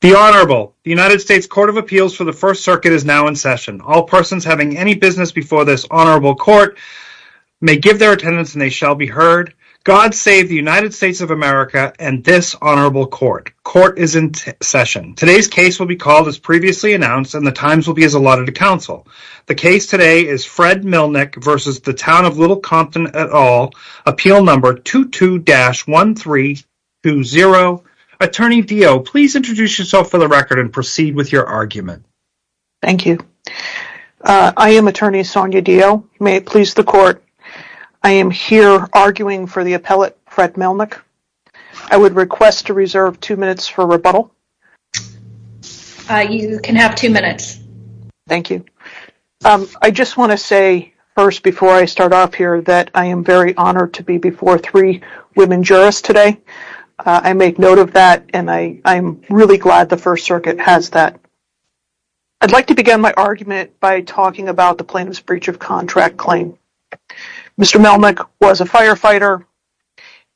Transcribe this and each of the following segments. The Honourable United States Court of Appeals for the First Circuit is now in session. All persons having any business before this Honourable Court may give their attendance and they shall be heard. God save the United States of America and this Honourable Court. Court is in session. Today's case will be called as previously announced and the times will be as allotted to counsel. The case today is Fred Melnyk v. Town of Little Compton et al. Appeal No. 22-1320. Attorney Dio, please introduce yourself for the record and proceed with your argument. Thank you. I am Attorney Sonia Dio. May it please the Court, I am here arguing for the appellate Fred Melnyk. I would request to reserve two minutes for rebuttal. You can have two minutes. Thank you. I just want to say first before I start off here that I am very honoured to be before three women jurists today. I make note of that and I am really glad the First Circuit has that. I would like to begin my argument by talking about the plaintiff's breach of contract claim. Mr. Melnyk was a firefighter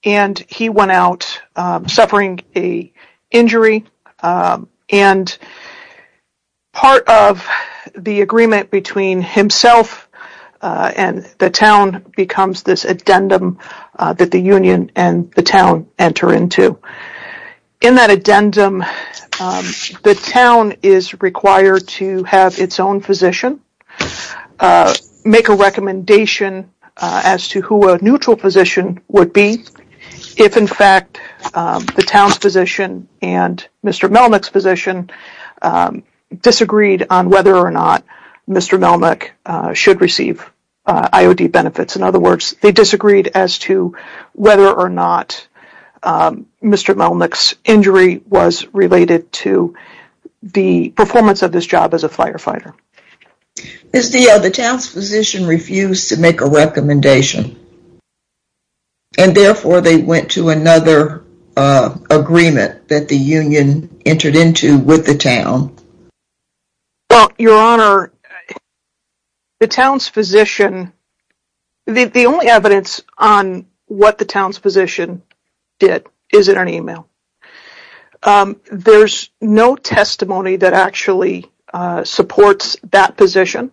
and he went out suffering an injury and part of the agreement between himself and the town becomes this addendum that the union and the town enter into. In that addendum, the town is required to have its own physician, make a recommendation as to who a neutral physician would be if in fact the town's physician and Mr. Melnyk's physician disagreed on whether or not Mr. Melnyk should receive IOD benefits. In other words, they disagreed as to whether or not Mr. Melnyk's injury was related to the performance of this job as a firefighter. Ms. Dio, the town's physician refused to make a recommendation and therefore they went to another agreement that the union entered into with the town. Well, your honour, the town's physician, the only evidence on what the town's physician did is in an email. There's no testimony that actually supports that position.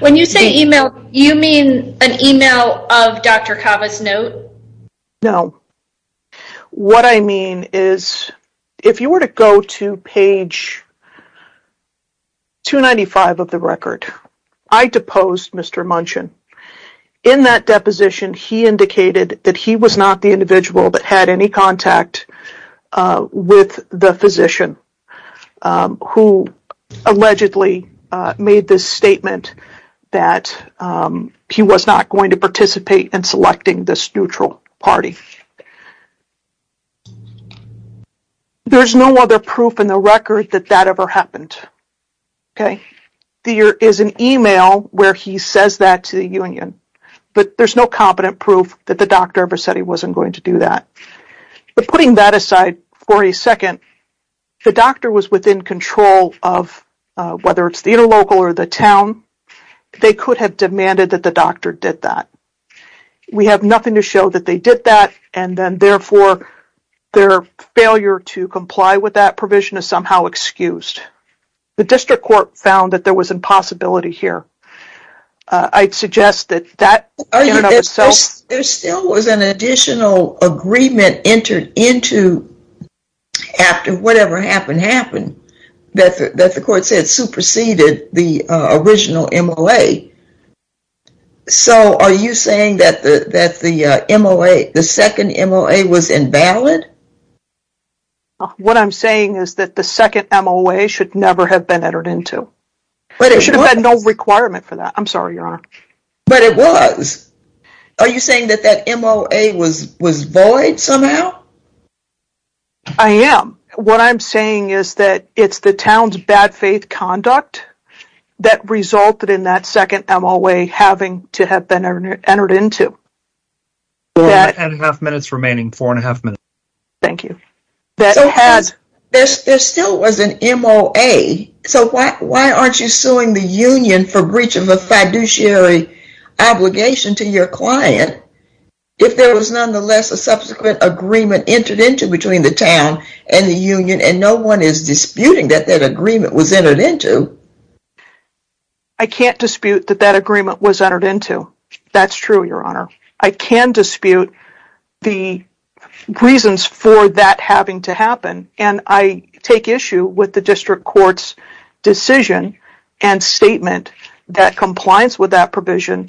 When you say email, you mean an email of Dr. Kava's note? No. What I mean is, if you were to go to page 295 of the record, I deposed Mr. Munchen. In that deposition, he indicated that he was not the individual that had any contact with the physician who allegedly made the statement that he was not going to participate in selecting this neutral party. There's no other proof in the record that that ever happened. There is an email where he says that to the union, but there's no competent proof that the doctor ever said he wasn't going to do that. Putting that aside for a second, the doctor was within control of whether it's the interlocal or the town. They could have demanded that the doctor did that. We have nothing to show that they did that and therefore their failure to comply with that provision is somehow excused. The district court found that there was a possibility here. I'd suggest that that in and of itself... There still was an additional agreement entered into after whatever happened happened that the court said superseded the original MOA. So are you saying that the second MOA was invalid? What I'm saying is that the second MOA should never have been entered into. There should have been no requirement for that. I'm sorry, Your Honor. But it was. Are you saying that that MOA was void somehow? I am. What I'm saying is that it's the town's bad faith conduct that resulted in that second MOA having to have been entered into. Ten and a half minutes remaining. Four and a half minutes. Thank you. There still was an MOA. So why aren't you suing the union for breach of a fiduciary obligation to your client if there was nonetheless a subsequent agreement entered into between the town and the union and no one is disputing that that agreement was entered into? I can't dispute that that agreement was entered into. That's true, Your Honor. I can dispute the reasons for that having to happen and I take issue with the district court's decision and statement that compliance with that provision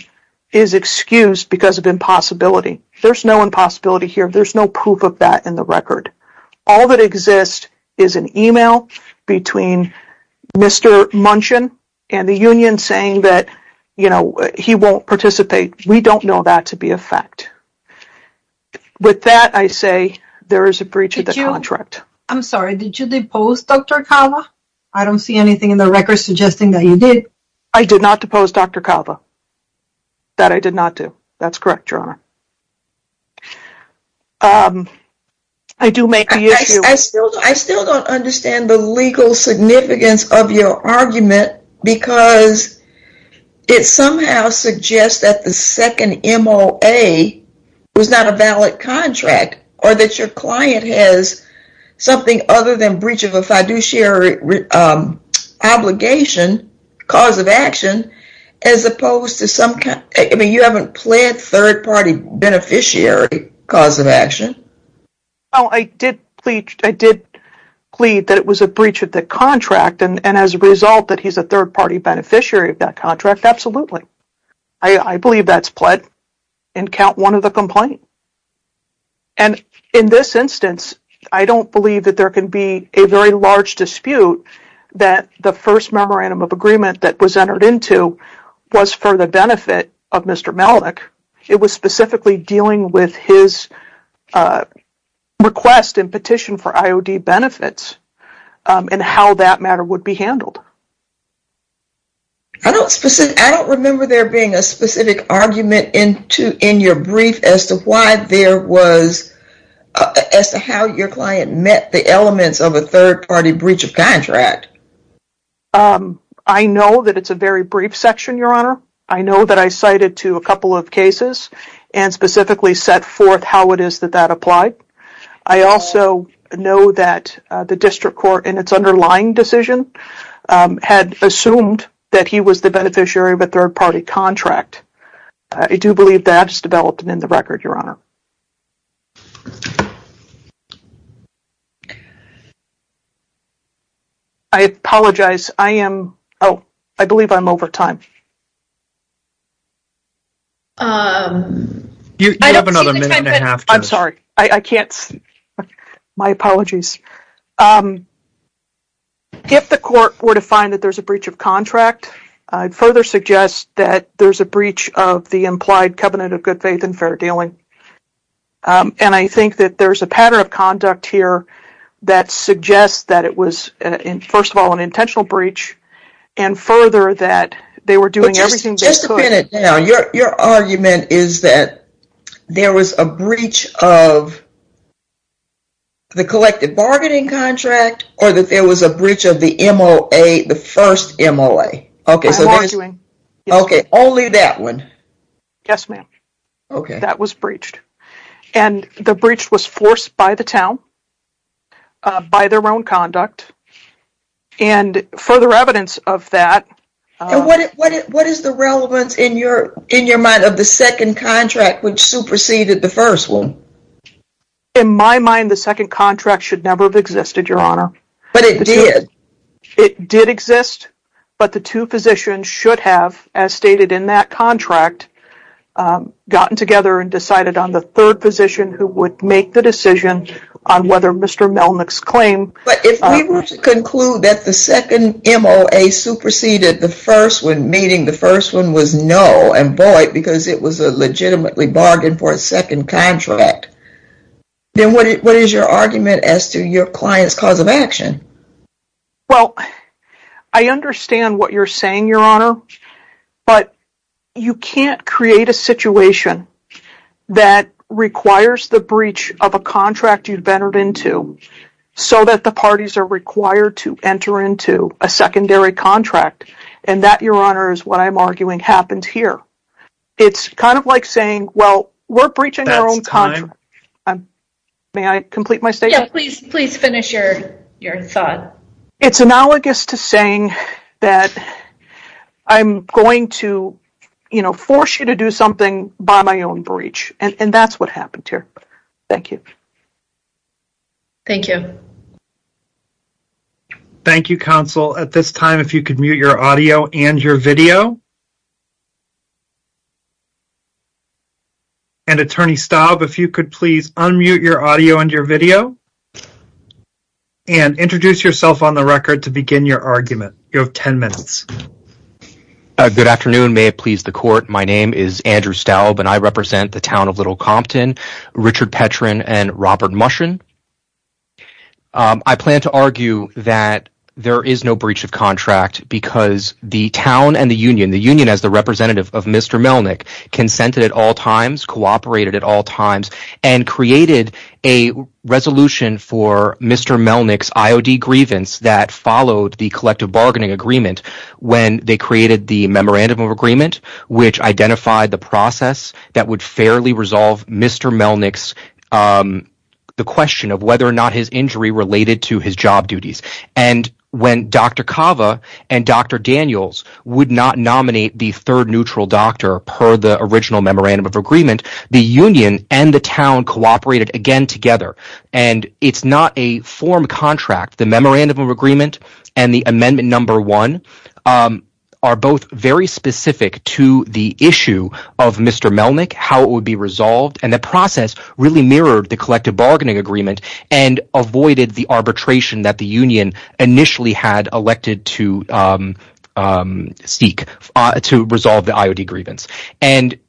is excused because of impossibility. There's no impossibility here. There's no proof of that in the record. All that exists is an email between Mr. Munchen and the union saying that, you know, he won't participate. We don't know that to be a fact. With that, I say there is a breach of the contract. I'm sorry. Did you depose Dr. Calva? I don't see anything in the record suggesting that you did. I did not depose Dr. Calva. That I did not do. That's correct, Your Honor. I do make the issue. I still don't understand the legal significance of your argument because it somehow suggests that the second MOA was not a valid contract or that your client has something other than breach of a fiduciary obligation, cause of action, as opposed to some, I mean, you haven't pled third-party beneficiary cause of action. Well, I did plead that it was a breach of the contract and as a result that he's a third-party beneficiary of that contract, absolutely. I believe that's pled and count one of the complaints. And in this instance, I don't believe that there can be a very large dispute that the first memorandum of agreement that was entered into was for the benefit of Mr. Malik. It was specifically dealing with his request and petition for IOD benefits and how that matter would be handled. I don't remember there being a specific argument in your brief as to why there was, as to how your client met the elements of a third-party breach of contract. I know that it's a very brief section, Your Honor. I know that I cited to a couple of cases and specifically set forth how it is that that applied. I also know that the district court in its underlying decision had assumed that he was the beneficiary of a third-party contract. I do believe that's developed and in the record, Your Honor. I apologize. I am – oh, I believe I'm over time. You have another minute and a half, Judge. I'm sorry. I can't – my apologies. If the court were to find that there's a breach of contract, I'd further suggest that there's a breach of the implied covenant of good faith and fair dealing. And I think that there's a pattern of conduct here that suggests that it was, first of all, an intentional breach, and further that they were doing everything they could – of the collective bargaining contract or that there was a breach of the MOA, the first MOA? Bargaining. Okay, only that one? Yes, ma'am. Okay. That was breached. And the breach was forced by the town, by their own conduct, and further evidence of that – And what is the relevance in your mind of the second contract which superseded the first one? In my mind, the second contract should never have existed, Your Honor. But it did. It did exist, but the two physicians should have, as stated in that contract, gotten together and decided on the third physician who would make the decision on whether Mr. Melnick's claim – the first one, meaning the first one was no and void because it was a legitimately bargain for a second contract. Then what is your argument as to your client's cause of action? Well, I understand what you're saying, Your Honor, but you can't create a situation that requires the breach of a contract you've entered into so that the parties are required to enter into a secondary contract. And that, Your Honor, is what I'm arguing happened here. It's kind of like saying, well, we're breaching our own contract. That's time. May I complete my statement? Yeah, please finish your thought. It's analogous to saying that I'm going to force you to do something by my own breach, and that's what happened here. Thank you. Thank you. Thank you, counsel. At this time, if you could mute your audio and your video. And, Attorney Staub, if you could please unmute your audio and your video and introduce yourself on the record to begin your argument. You have 10 minutes. Good afternoon. May it please the Court. My name is Andrew Staub, and I represent the town of Little Compton, Richard Petren and Robert Mushen. I plan to argue that there is no breach of contract because the town and the union, the union as the representative of Mr. Melnick, consented at all times, cooperated at all times, and created a resolution for Mr. Melnick's IOD grievance that followed the collective bargaining agreement when they created the memorandum of agreement, which identified the process that would fairly resolve Mr. Melnick's question of whether or not his injury related to his job duties. And when Dr. Cava and Dr. Daniels would not nominate the third neutral doctor per the original memorandum of agreement, the union and the town cooperated again together. And it's not a form contract. The memorandum of agreement and the amendment number one are both very specific to the issue of Mr. Melnick, how it would be resolved, and the process really mirrored the collective bargaining agreement and avoided the arbitration that the union initially had elected to seek to resolve the IOD grievance. And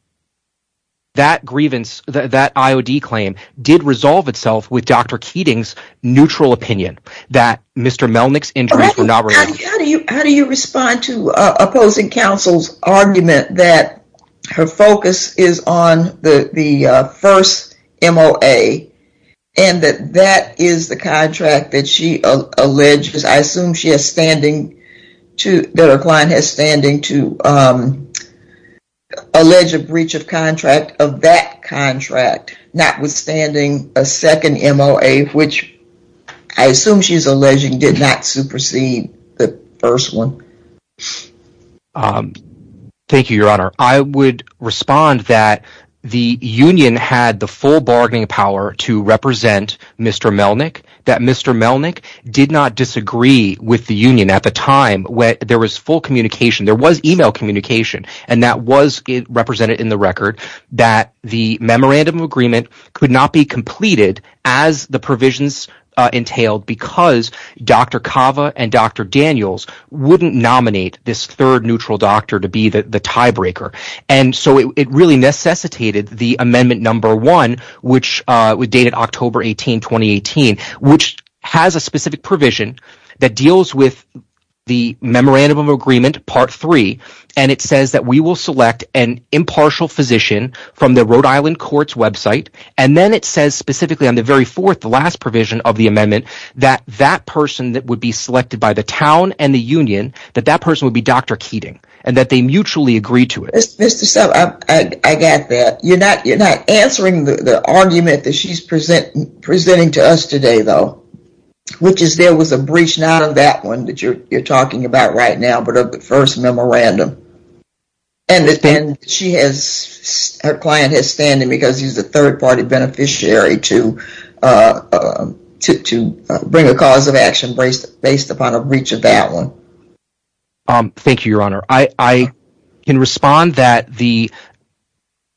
that grievance, that IOD claim, did resolve itself with Dr. Keating's neutral opinion that Mr. Melnick's injuries were not related. How do you respond to opposing counsel's argument that her focus is on the first MOA and that that is the contract that she alleged, I assume that her client has standing to allege a breach of contract of that contract, notwithstanding a second MOA, which I assume she's alleging did not supersede the first one? because Dr. Cava and Dr. Daniels wouldn't nominate this third neutral doctor to be the tiebreaker. And so it really necessitated the amendment number one, which was dated October 18, 2018, which has a specific provision that deals with the memorandum of agreement part three, and it says that we will select an impartial physician from the Rhode Island courts website. And then it says specifically on the very fourth, the last provision of the amendment, that that person that would be selected by the town and the union, that that person would be Dr. Keating and that they mutually agree to it. I got that. You're not answering the argument that she's presenting to us today, though, which is there was a breach, not of that one that you're talking about right now, but of the first memorandum. And she has, her client has standing because he's a third party beneficiary to bring a cause of action based upon a breach of that one. Thank you, Your Honor. I can respond that the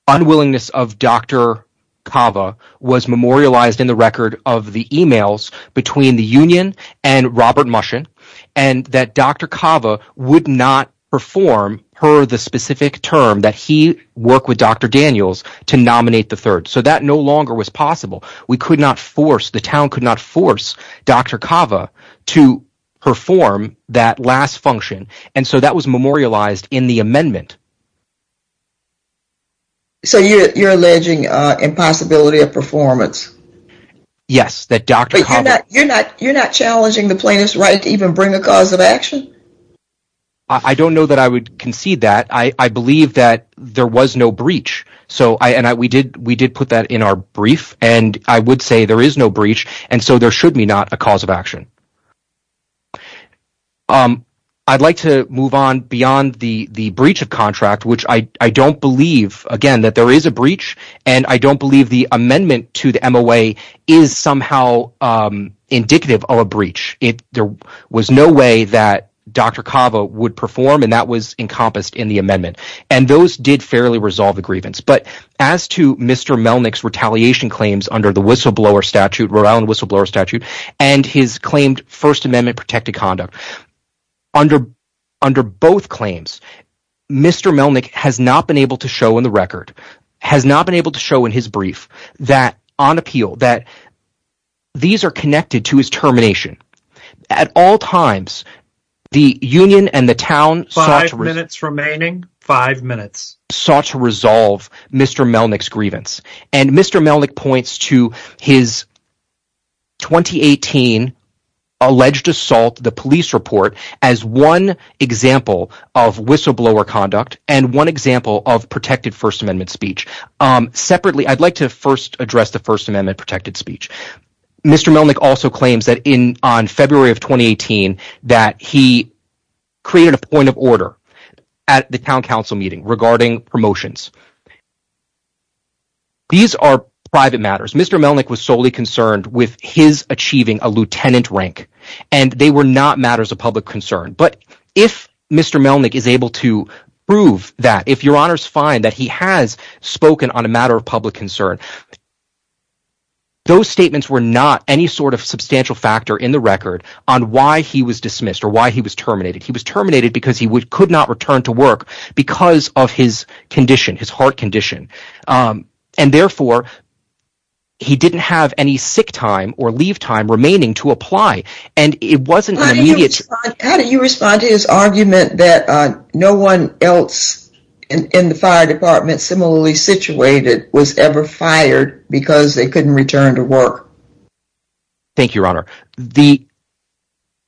unwillingness of Dr. Cava was memorialized in the record of the emails between the union and Robert Mushin and that Dr. Cava would not perform her the specific term that he worked with Dr. Daniels to nominate the third. So that no longer was possible. We could not force the town, could not force Dr. Cava to perform that last function. And so that was memorialized in the amendment. So you're alleging impossibility of performance? Yes. You're not challenging the plaintiff's right to even bring a cause of action? I don't know that I would concede that. I believe that there was no breach. And we did put that in our brief. And I would say there is no breach, and so there should be not a cause of action. I'd like to move on beyond the breach of contract, which I don't believe, again, that there is a breach. And I don't believe the amendment to the MOA is somehow indicative of a breach. There was no way that Dr. Cava would perform, and that was encompassed in the amendment. And those did fairly resolve the grievance. But as to Mr. Melnick's retaliation claims under the whistleblower statute, Rhode Island whistleblower statute, and his claimed First Amendment protected conduct, under both claims, Mr. Melnick has not been able to show in the record, has not been able to show in his brief that on appeal, that these are connected to his termination. At all times, the union and the town sought to resolve Mr. Melnick's grievance. And Mr. Melnick points to his 2018 alleged assault, the police report, as one example of whistleblower conduct and one example of protected First Amendment speech. Separately, I'd like to first address the First Amendment protected speech. Mr. Melnick also claims that on February of 2018 that he created a point of order at the town council meeting regarding promotions. These are private matters. Mr. Melnick was solely concerned with his achieving a lieutenant rank, and they were not matters of public concern. But if Mr. Melnick is able to prove that, if your honors find that he has spoken on a matter of public concern, those statements were not any sort of substantial factor in the record on why he was dismissed or why he was terminated. He was terminated because he could not return to work because of his condition, his heart condition. And therefore, he didn't have any sick time or leave time remaining to apply. And it wasn't an immediate… How do you respond to his argument that no one else in the fire department similarly situated was ever fired because they couldn't return to work? Thank you, your honor.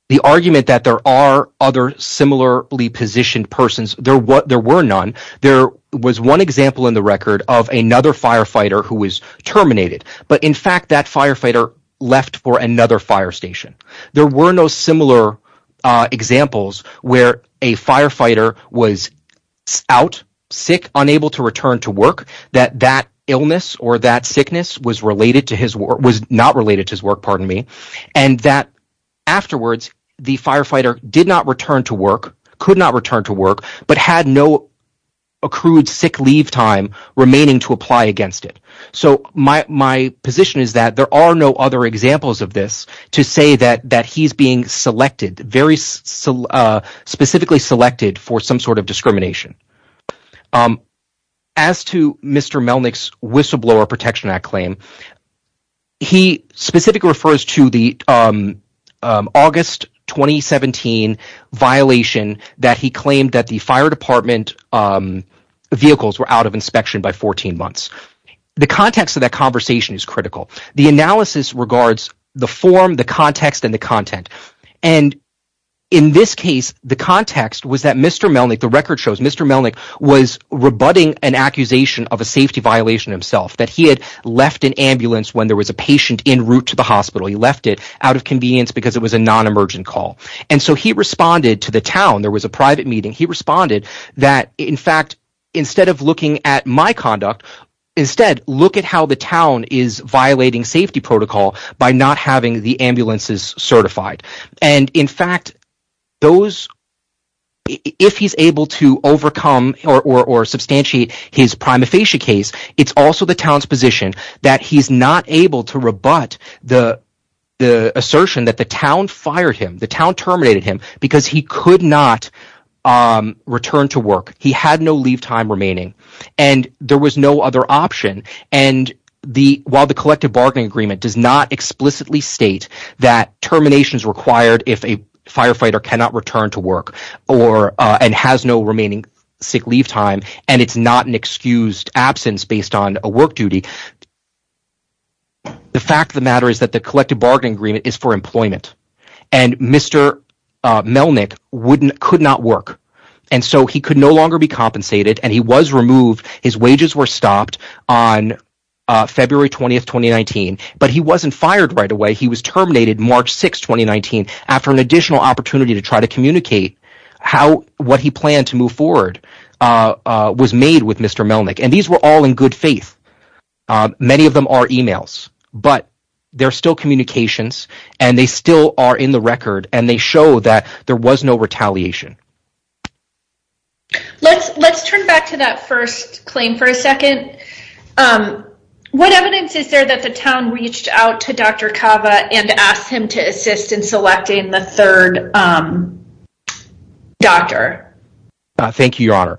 The argument that there are other similarly positioned persons, there were none. There was one example in the record of another firefighter who was terminated. But in fact, that firefighter left for another fire station. There were no similar examples where a firefighter was out, sick, unable to return to work, that that illness or that sickness was not related to his work, and that afterwards, the firefighter did not return to work, could not return to work, but had no accrued sick leave time remaining to apply against it. So my position is that there are no other examples of this to say that he's being selected, very specifically selected for some sort of discrimination. As to Mr. Melnick's whistleblower protection act claim, he specifically refers to the August 2017 violation that he claimed that the fire department vehicles were out of inspection by 14 months. The context of that conversation is critical. The analysis regards the form, the context, and the content. And in this case, the context was that Mr. Melnick, the record shows Mr. Melnick was rebutting an accusation of a safety violation himself that he had left an ambulance when there was a patient in route to the hospital. He left it out of convenience because it was a non-emergent call. And so he responded to the town. There was a private meeting. He responded that, in fact, instead of looking at my conduct, instead, look at how the town is violating safety protocol by not having the ambulances certified. The assertion that the town fired him, the town terminated him because he could not return to work, he had no leave time remaining, and there was no other option. And while the collective bargaining agreement does not explicitly state that termination is required if a firefighter cannot return to work and has no remaining sick leave time, and it's not an excused absence based on a work duty, the fact of the matter is that the collective bargaining agreement is for employment, and Mr. Melnick could not work. And so he could no longer be compensated, and he was removed. His wages were stopped on February 20, 2019, but he wasn't fired right away. March 6, 2019, after an additional opportunity to try to communicate what he planned to move forward was made with Mr. Melnick, and these were all in good faith. Many of them are emails, but they're still communications, and they still are in the record, and they show that there was no retaliation. Let's turn back to that first claim for a second. What evidence is there that the town reached out to Dr. Cava and asked him to assist in selecting the third doctor? Thank you, Your Honor.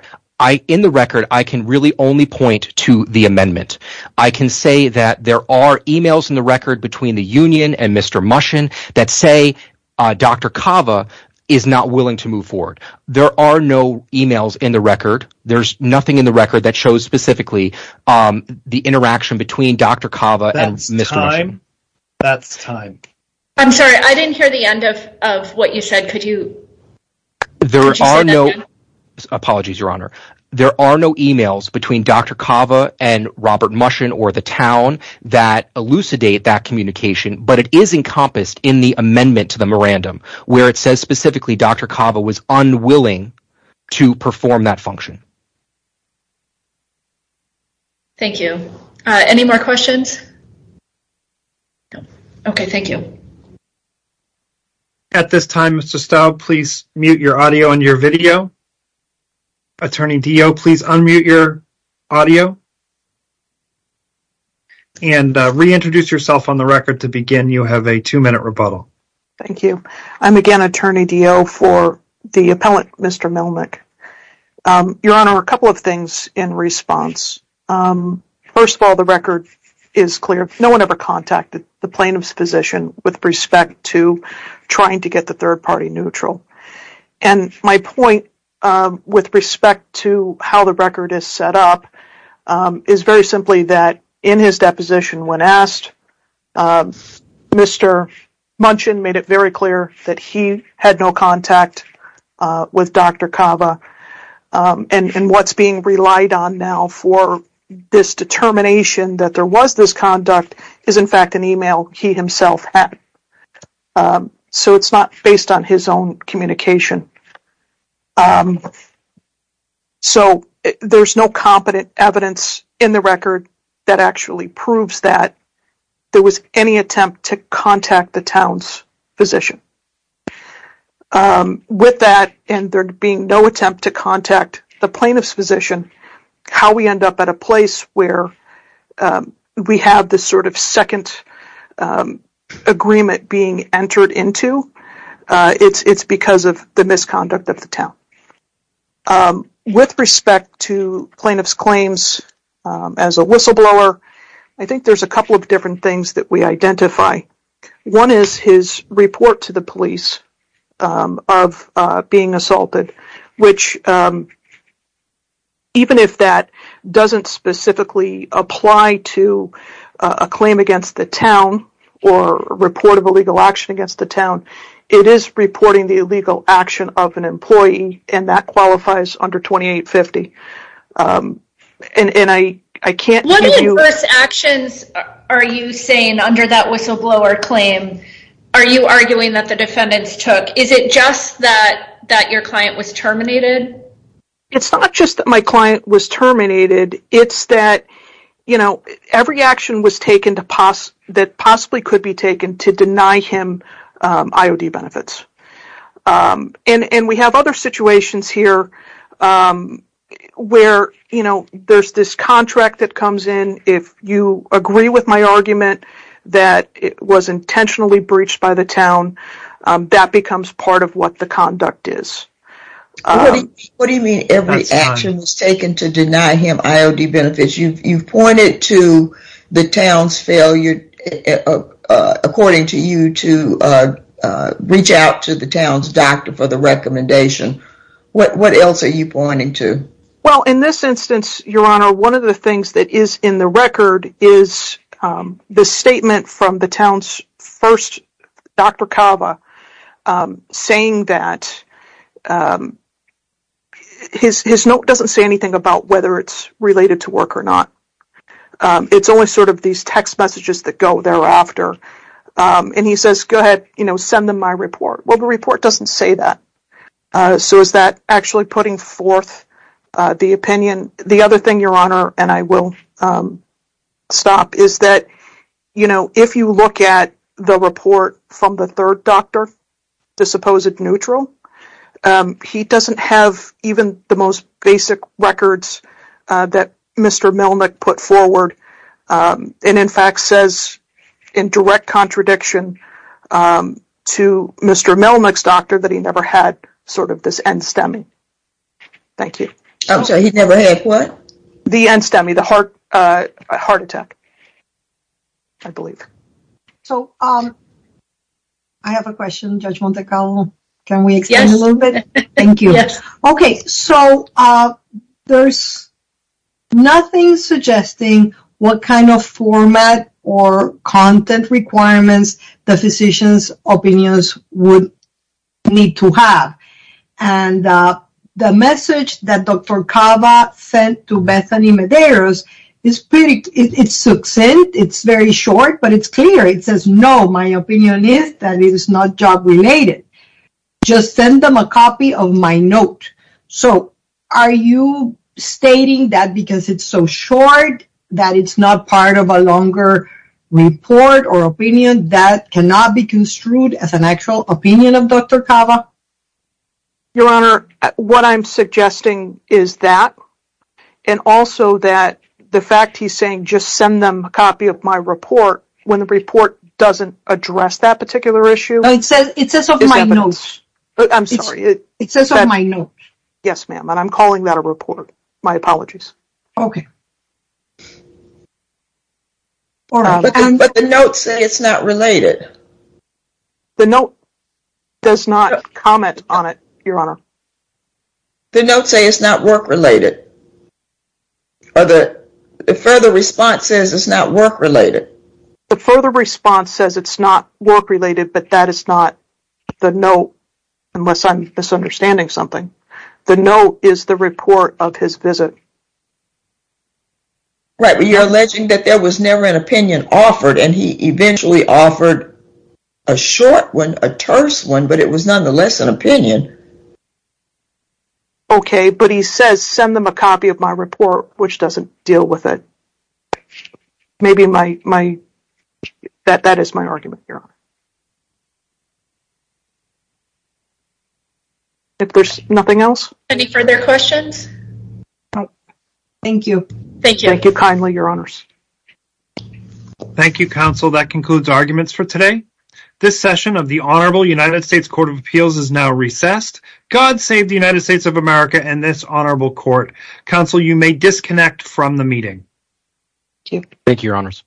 In the record, I can really only point to the amendment. I can say that there are emails in the record between the union and Mr. Mushin that say Dr. Cava is not willing to move forward. There are no emails in the record. There's nothing in the record that shows specifically the interaction between Dr. Cava and Mr. Mushin. That's time. That's time. I'm sorry. I didn't hear the end of what you said. Could you say that again? Apologies, Your Honor. There are no emails between Dr. Cava and Robert Mushin or the town that elucidate that communication, but it is encompassed in the amendment to the mirandum where it says specifically Dr. Cava was unwilling to perform that function. Thank you. Any more questions? No. Okay, thank you. At this time, Mr. Staub, please mute your audio and your video. Attorney Dio, please unmute your audio and reintroduce yourself on the record to begin. You have a two-minute rebuttal. Thank you. I'm again Attorney Dio for the appellant, Mr. Milnick. Your Honor, a couple of things in response. First of all, the record is clear. No one ever contacted the plaintiff's physician with respect to trying to get the third party neutral. And my point with respect to how the record is set up is very simply that in his deposition when asked, Mr. Mushin made it very clear that he had no contact with Dr. Cava. And what's being relied on now for this determination that there was this conduct is in fact an email he himself had. So it's not based on his own communication. So there's no competent evidence in the record that actually proves that there was any attempt to contact the town's physician. With that and there being no attempt to contact the plaintiff's physician, how we end up at a place where we have this sort of second agreement being entered into, it's because of the misconduct of the town. With respect to plaintiff's claims as a whistleblower, I think there's a couple of different things that we identify. One is his report to the police of being assaulted, which even if that doesn't specifically apply to a claim against the town or report of illegal action against the town, it is reporting the illegal action of an employee and that qualifies under 2850. What adverse actions are you saying under that whistleblower claim? Are you arguing that the defendants took? Is it just that your client was terminated? It's not just that my client was terminated. It's that every action that possibly could be taken to deny him IOD benefits. And we have other situations here where there's this contract that comes in. If you agree with my argument that it was intentionally breached by the town, that becomes part of what the conduct is. What do you mean every action was taken to deny him IOD benefits? You've pointed to the town's failure, according to you, to reach out to the town's doctor for the recommendation. What else are you pointing to? Well, in this instance, Your Honor, one of the things that is in the record is the statement from the town's first doctor, saying that his note doesn't say anything about whether it's related to work or not. It's only sort of these text messages that go thereafter. And he says, go ahead, send them my report. Well, the report doesn't say that. So is that actually putting forth the opinion? The other thing, Your Honor, and I will stop, is that if you look at the report from the third doctor, the supposed neutral, he doesn't have even the most basic records that Mr. Milnick put forward, and in fact says, in direct contradiction to Mr. Milnick's doctor, that he never had sort of this end-stemmy. Thank you. I'm sorry, he never had what? The end-stemmy, the heart attack, I believe. So I have a question, Judge Montecallo. Can we extend a little bit? Thank you. Yes. No, my opinion is that it is not job-related. Just send them a copy of my note. So are you stating that because it's so short that it's not part of a longer report or opinion that cannot be construed as an actual opinion of Dr. Cava? Your Honor, what I'm suggesting is that, and also that the fact he's saying just send them a copy of my report when the report doesn't address that particular issue. No, it says of my notes. I'm sorry. It says of my notes. Yes, ma'am, and I'm calling that a report. My apologies. Okay. But the notes say it's not related. The note does not comment on it, Your Honor. The notes say it's not work-related. Or the further response says it's not work-related. The further response says it's not work-related, but that is not the note, unless I'm misunderstanding something. The note is the report of his visit. Right, but you're alleging that there was never an opinion offered, and he eventually offered a short one, a terse one, but it was nonetheless an opinion. Okay, but he says send them a copy of my report, which doesn't deal with it. Maybe that is my argument, Your Honor. If there's nothing else? Any further questions? No. Thank you. Thank you. Thank you kindly, Your Honors. Thank you, Counsel. That concludes arguments for today. This session of the Honorable United States Court of Appeals is now recessed. God save the United States of America and this honorable court. Counsel, you may disconnect from the meeting. Thank you. Thank you, Your Honors.